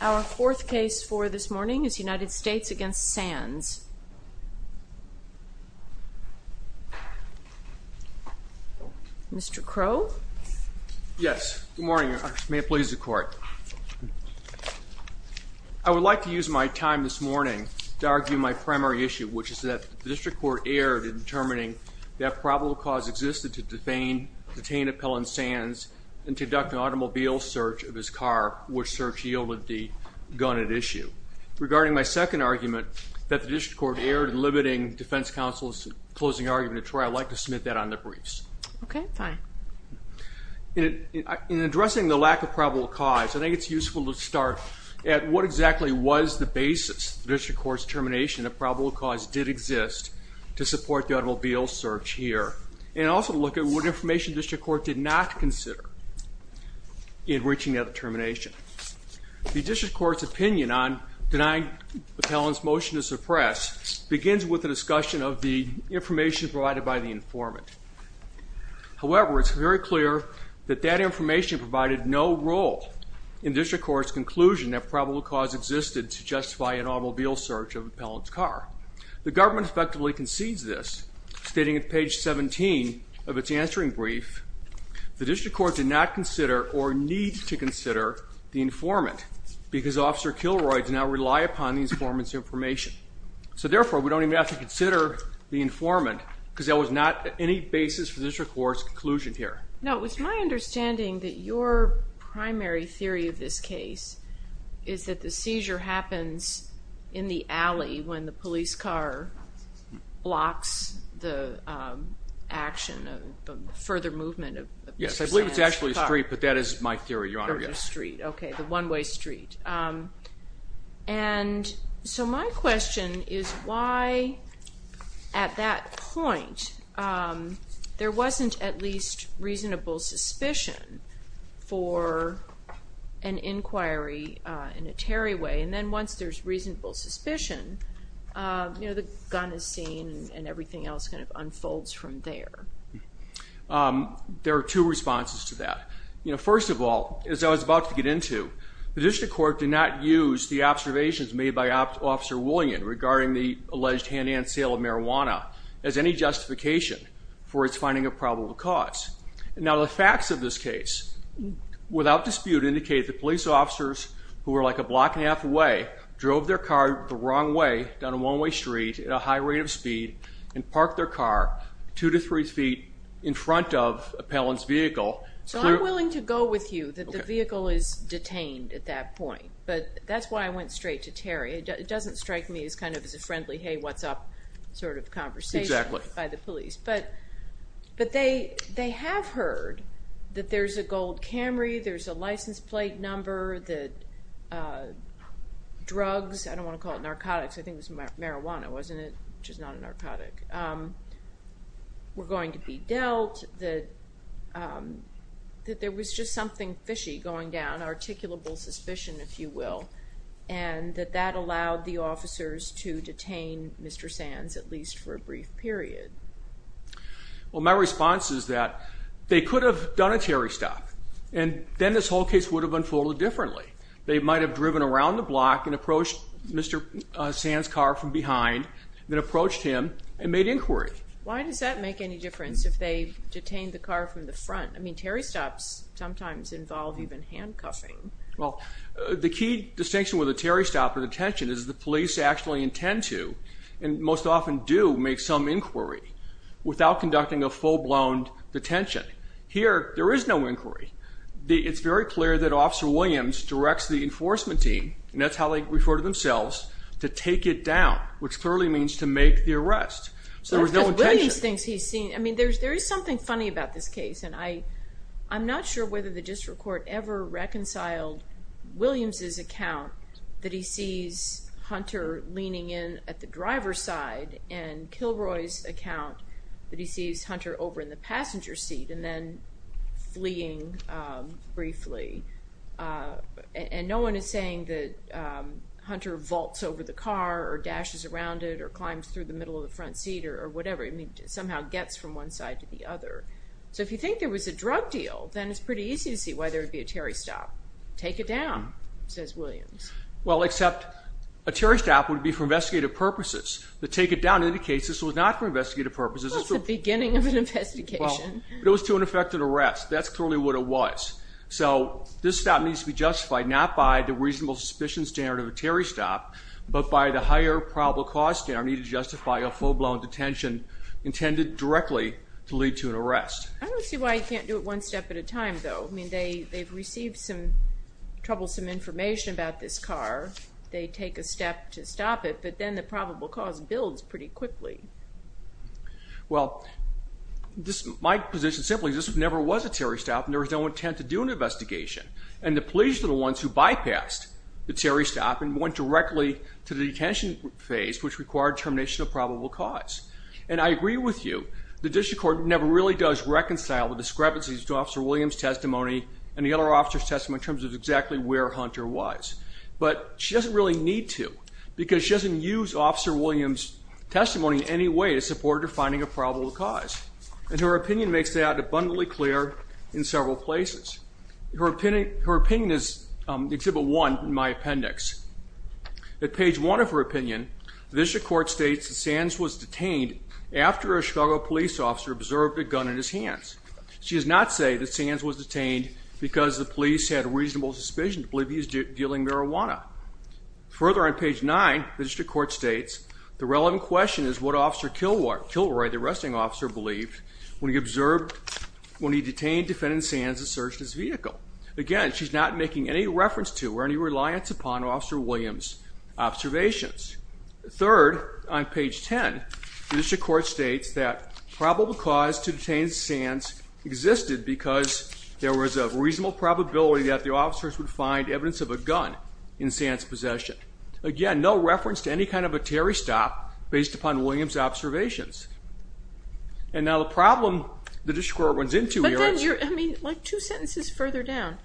Our fourth case for this morning is United States v. Sands. Mr. Crowe? Yes, good morning. May it please the court. I would like to use my time this morning to argue my primary issue, which is that the district court erred in determining that probable cause existed to detain Appellant Sands and to conduct an automobile search of his car, which search yielded the gun at issue. Regarding my second argument, that the district court erred in limiting defense counsel's closing argument at trial, I'd like to submit that on the briefs. Okay, fine. In addressing the lack of probable cause, I think it's useful to start at what exactly was the basis of the district court's determination that probable cause did exist to support the automobile search here, and also look at what information district court did not consider in reaching that determination. The district court's opinion on denying Appellant's motion to suppress begins with the discussion of the information provided by the informant. However, it's very clear that that information provided no role in district court's conclusion that probable cause existed to justify an automobile search of Appellant's car. The government effectively concedes this, stating at page 17 of its answering brief, the district court did not consider or need to consider the informant, because Officer Kilroy did not rely upon the informant's information. So therefore, we don't even have to consider the informant, because that was not any basis for district court's conclusion here. Now, it's my understanding that your primary theory of this case is that the seizure happens in the alley when the police car blocks the action, the further movement. Yes, I believe it's actually a street, but that is my theory, Your Honor. Okay, the one-way street. And so my question is why, at that point, there wasn't at least reasonable suspicion for an inquiry in a Terry way, and then once there's reasonable suspicion, you know, the gun is seen and everything else kind of unfolds from there. There are two responses to that. You know, first of all, as I was about to get into, the district court did not use the observations made by Officer Woolleyan regarding the alleged hand-in-hand sale of marijuana as any justification for its finding of probable cause. Now, the facts of this case, without dispute, indicate the police officers, who were like a block and a half, drove their car the wrong way, down a one-way street, at a high rate of speed, and parked their car two to three feet in front of Appellant's vehicle. So I'm willing to go with you that the vehicle is detained at that point, but that's why I went straight to Terry. It doesn't strike me as kind of as a friendly, hey what's up, sort of conversation by the police, but they have heard that there's a gold Camry, there's a license plate number, that drugs, I don't want to call it narcotics, I think it was marijuana, wasn't it, which is not a narcotic, were going to be dealt, that there was just something fishy going down, articulable suspicion, if you will, and that that allowed the officers to detain Mr. Sands, at least for a brief period. Well, my response is that they could have done a Terry stop, and then this whole case would have unfolded differently. They might have driven around the block and approached Mr. Sands' car from behind, then approached him and made inquiry. Why does that make any difference if they detained the car from the front? I mean, Terry stops sometimes involve even handcuffing. Well, the key distinction with a Terry stop of detention is the police actually intend to, and most often do, make some inquiry without conducting a full-blown detention. Here, there is no inquiry. It's very clear that Officer Williams directs the enforcement team, and that's how they refer to themselves, to take it down, which clearly means to make the arrest. So there was no intention. Williams thinks he's seen, I mean, there's there is something funny about this case, and I I'm not sure whether the district court ever reconciled Williams' account that he sees Hunter leaning in at the driver's side, and Kilroy's account that he sees Hunter over in the passenger seat and then fleeing briefly, and no one is saying that Hunter vaults over the car or dashes around it or climbs through the middle of the front seat or whatever. I mean, somehow gets from one side to the other. So if you think there was a drug deal, then it's pretty easy to see why there would be a Terry stop. Take it down, says Williams. Well, except a Terry stop would be for investigative purposes. The take it down indicates this was not for investigative purposes. That's the beginning of an investigation. It was to an effective arrest. That's clearly what it was. So this stop needs to be justified not by the reasonable suspicion standard of a Terry stop, but by the higher probable cause standard needed to justify a full-blown detention intended directly to lead to an arrest. I don't see why you can't do it one step at a time, though. I mean, they they've received some troublesome information about this car. They take a step to stop it, but then the probable cause builds pretty quickly. Well, my position simply is this never was a Terry stop and there was no intent to do an investigation. And the police are the ones who bypassed the Terry stop and went directly to the detention phase, which required termination of probable cause. And I agree with you. The district court never really does reconcile the discrepancies to Officer Williams' testimony and the officer's testimony in terms of exactly where Hunter was. But she doesn't really need to because she doesn't use Officer Williams' testimony in any way to support her finding a probable cause. And her opinion makes that abundantly clear in several places. Her opinion is in Exhibit 1 in my appendix. At page 1 of her opinion, the district court states that Sands was detained after a Chicago police officer observed a gun in his hands. She does not say that Sands was a police had a reasonable suspicion to believe he was dealing marijuana. Further on page 9, the district court states the relevant question is what Officer Kilroy, the arresting officer, believed when he observed when he detained defendant Sands and searched his vehicle. Again, she's not making any reference to or any reliance upon Officer Williams' observations. Third, on page 10, the district court states that probable cause to detain Sands existed because there was a reasonable probability that the officers would find evidence of a gun in Sands' possession. Again, no reference to any kind of a Terry stop based upon Williams' observations. And now the problem the district court runs into here... But then, I mean, like two sentences further down,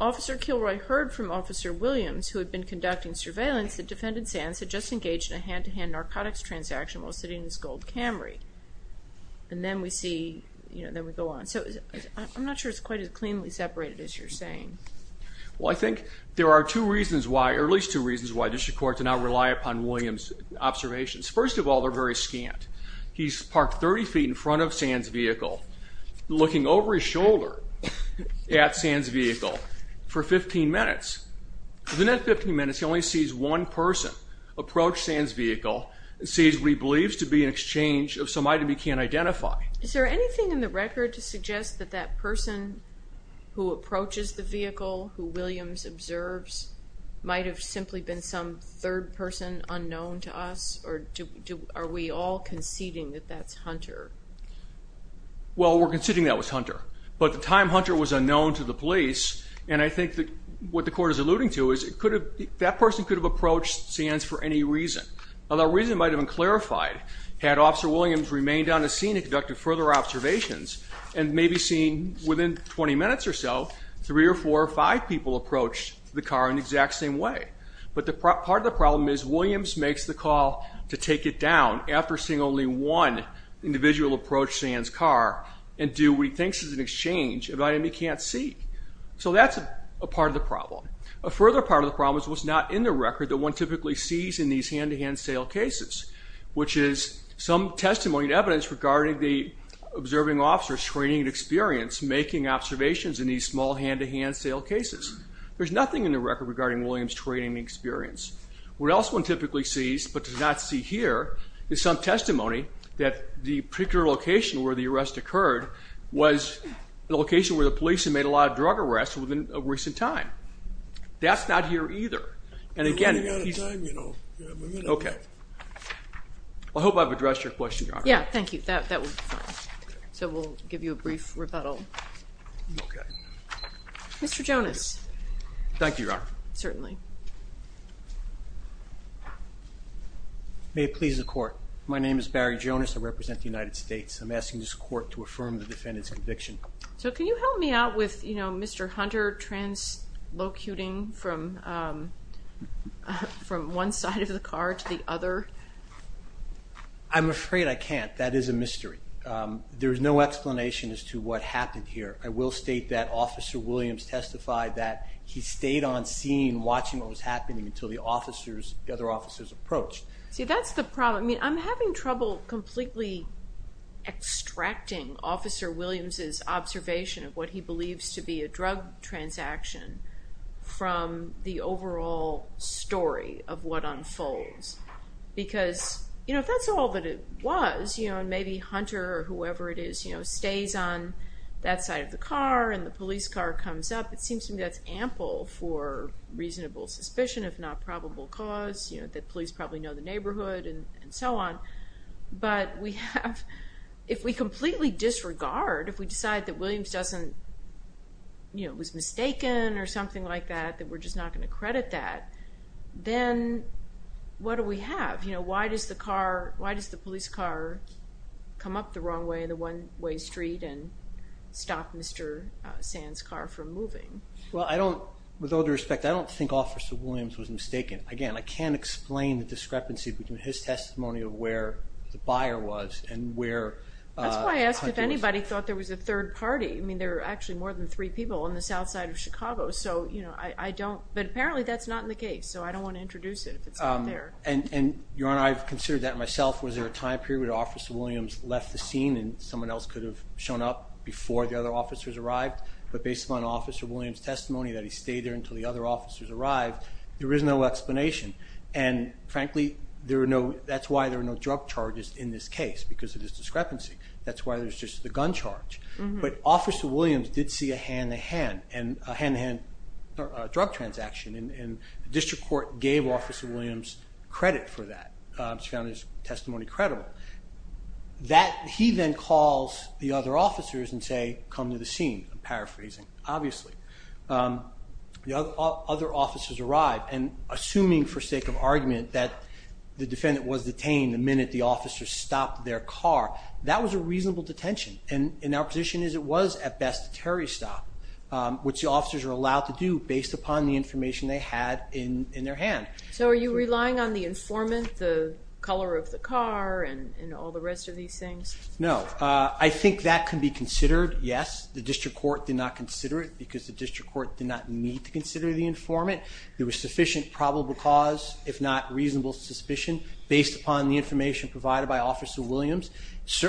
Officer Kilroy heard from Officer Williams, who had been conducting surveillance, that defendant Sands had just engaged in a hand-to-hand narcotics transaction while sitting in his gold Camry. And then we see, you know, then we I'm not sure it's quite as cleanly separated as you're saying. Well, I think there are two reasons why, or at least two reasons, why district courts do not rely upon Williams' observations. First of all, they're very scant. He's parked 30 feet in front of Sands' vehicle, looking over his shoulder at Sands' vehicle for 15 minutes. Within that 15 minutes, he only sees one person approach Sands' vehicle and sees what he believes to be an exchange of some item he can't identify. Is there anything in the record to suggest that that person who approaches the vehicle, who Williams observes, might have simply been some third person unknown to us? Or are we all conceding that that's Hunter? Well, we're conceding that was Hunter. But at the time, Hunter was unknown to the police, and I think that what the court is alluding to is it could have... that person could have approached Sands for any reason. Now, that reason might have been clarified had Officer Williams remained on the scene and conducted further observations, and maybe seen within 20 minutes or so, three or four or five people approached the car in the exact same way. But part of the problem is Williams makes the call to take it down after seeing only one individual approach Sands' car and do what he thinks is an exchange of an item he can't see. So that's a part of the problem. A further part of the problem is what's not in the record that one typically sees in these testimony and evidence regarding the observing officers training and experience making observations in these small hand-to-hand sale cases. There's nothing in the record regarding Williams training and experience. What else one typically sees, but does not see here, is some testimony that the particular location where the arrest occurred was the location where the police had made a lot of drug arrests within a recent time. That's not here either, and again... Okay. I hope I've addressed your question. Yeah, thank you. That would be fine. So we'll give you a brief rebuttal. Okay. Mr. Jonas. Thank you, Your Honor. Certainly. May it please the court. My name is Barry Jonas. I represent the United States. I'm asking this court to affirm the defendant's conviction. So can you help me out with, you know, Mr. Hunter translocating from one side of the car to the other? I'm afraid I can't. That is a mystery. There is no explanation as to what happened here. I will state that Officer Williams testified that he stayed on scene watching what was happening until the officers, the other officers, approached. See, that's the problem. I mean, I'm having trouble completely extracting Officer Williams' observation of what he believes to be a drug transaction from the overall story of what unfolds. Because, you know, if that's all that it was, you know, and maybe Hunter or whoever it is, you know, stays on that side of the car and the police car comes up, it seems to me that's ample for reasonable suspicion, if not probable cause, you know, that police probably know the guard. If we decide that Williams doesn't, you know, was mistaken or something like that, that we're just not going to credit that, then what do we have? You know, why does the car, why does the police car come up the wrong way, the one-way street, and stop Mr. Sand's car from moving? Well, I don't, with all due respect, I don't think Officer Williams was mistaken. Again, I can't explain the discrepancy between his testimony of where the buyer was and where Hunter was. That's why I asked if anybody thought there was a third party. I mean, there are actually more than three people on the south side of Chicago, so, you know, I don't, but apparently that's not in the case, so I don't want to introduce it if it's not there. And, Your Honor, I've considered that myself. Was there a time period when Officer Williams left the scene and someone else could have shown up before the other officers arrived? But based on Officer Williams' testimony that he stayed there until the other officers arrived, there is no explanation. And frankly, there are no, that's why there are no drug charges in this case, because of this discrepancy. That's why there's just the gun charge. But Officer Williams did see a hand-to-hand, and a hand-to-hand drug transaction, and the district court gave Officer Williams credit for that. He found his testimony credible. That, he then calls the other officers and say, come to the scene. I'm paraphrasing, obviously. The other officers arrived, and assuming for sake of argument that the defendant was detained the minute the officers stopped their car, that was a reasonable detention. And our position is it was, at best, a terrorist stop, which the officers are allowed to do based upon the information they had in their hand. So are you relying on the informant, the color of the car, and all the rest of these things? No. I think that can be considered, yes. The district court did not consider it, because the district court did not need to consider the informant. There was sufficient probable cause, if not reasonable suspicion, based upon the information provided by Officer Williams,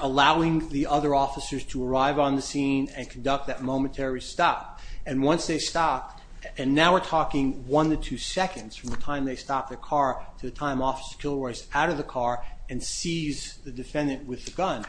allowing the other officers to arrive on the scene and conduct that momentary stop. And once they stopped, and now we're talking one to two seconds from the time they stopped their car to the time Officer Kilroy's out of the car and sees the defendant with the gun.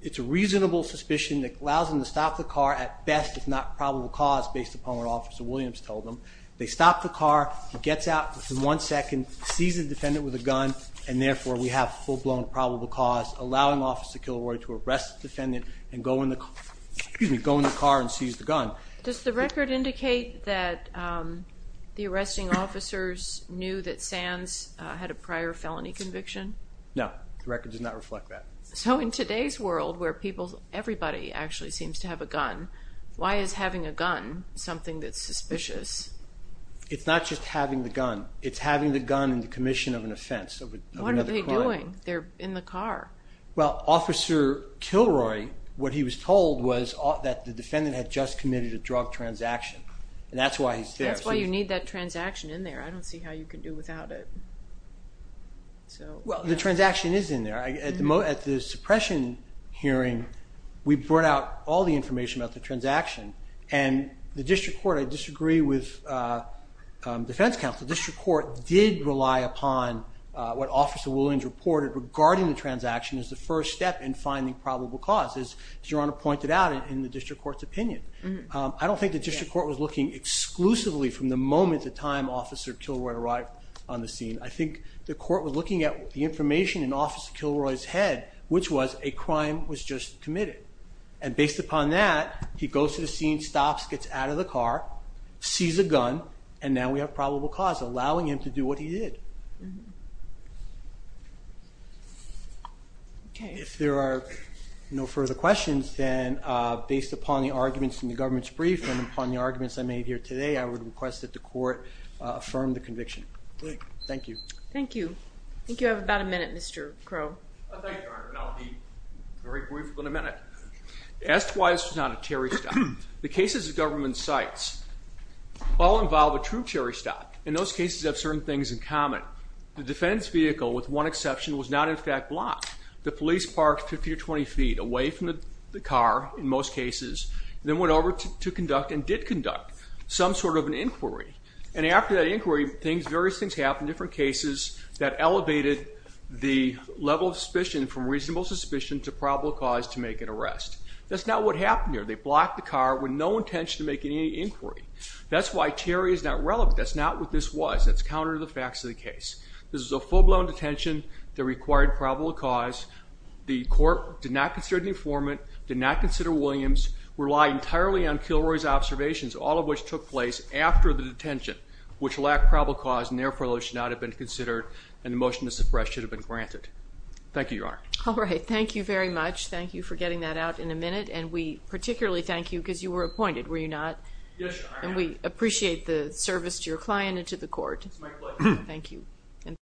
It's a reasonable suspicion that allows them to stop the car, at best, if not probable cause, based upon what Officer Williams told them. They stopped the car, he gets out within one second, sees the defendant with a gun, and therefore we have full-blown probable cause, allowing Officer Kilroy to arrest the defendant and go in the car and seize the gun. Does the record indicate that the arresting officers knew that Sands had a prior felony conviction? No. The record does not reflect that. So in today's world, where everybody actually seems to have a gun, why is having a gun something that's suspicious? It's not just having the gun. It's having the gun in the commission of an offense. What are they doing? They're in the car. Well, Officer Kilroy, what he was told was that the defendant had just committed a drug transaction, and that's why he's there. That's why you need that transaction in there. I don't see how you could do without it. Well, the transaction is in there. At the suppression hearing, we brought out all the I disagree with defense counsel. The District Court did rely upon what Officer Williams reported regarding the transaction as the first step in finding probable cause, as Your Honor pointed out in the District Court's opinion. I don't think the District Court was looking exclusively from the moment the time Officer Kilroy arrived on the scene. I think the court was looking at the information in Officer Kilroy's head, which was a crime was just committed, and sees a gun, and now we have probable cause allowing him to do what he did. If there are no further questions, then based upon the arguments in the government's brief and upon the arguments I made here today, I would request that the court affirm the conviction. Thank you. Thank you. I think all involve a true cherry-stop. In those cases have certain things in common. The defense vehicle, with one exception, was not in fact blocked. The police parked 15 or 20 feet away from the car, in most cases, and then went over to conduct, and did conduct, some sort of an inquiry. And after that inquiry, various things happened, different cases that elevated the level of suspicion from reasonable suspicion to probable cause to make an arrest. That's not what happened here. They blocked the car with no intention to make any inquiry. That's why Terry is not relevant. That's not what this was. That's counter to the facts of the case. This is a full-blown detention that required probable cause. The court did not consider the informant, did not consider Williams, relied entirely on Kilroy's observations, all of which took place after the detention, which lacked probable cause, and therefore should not have been considered, and the motion to suppress should have been granted. Thank you, Your Honor. All right, thank you very much. And particularly thank you, because you were appointed, were you not? Yes, Your Honor. And we appreciate the service to your client and to the court. It was my pleasure. Thank you.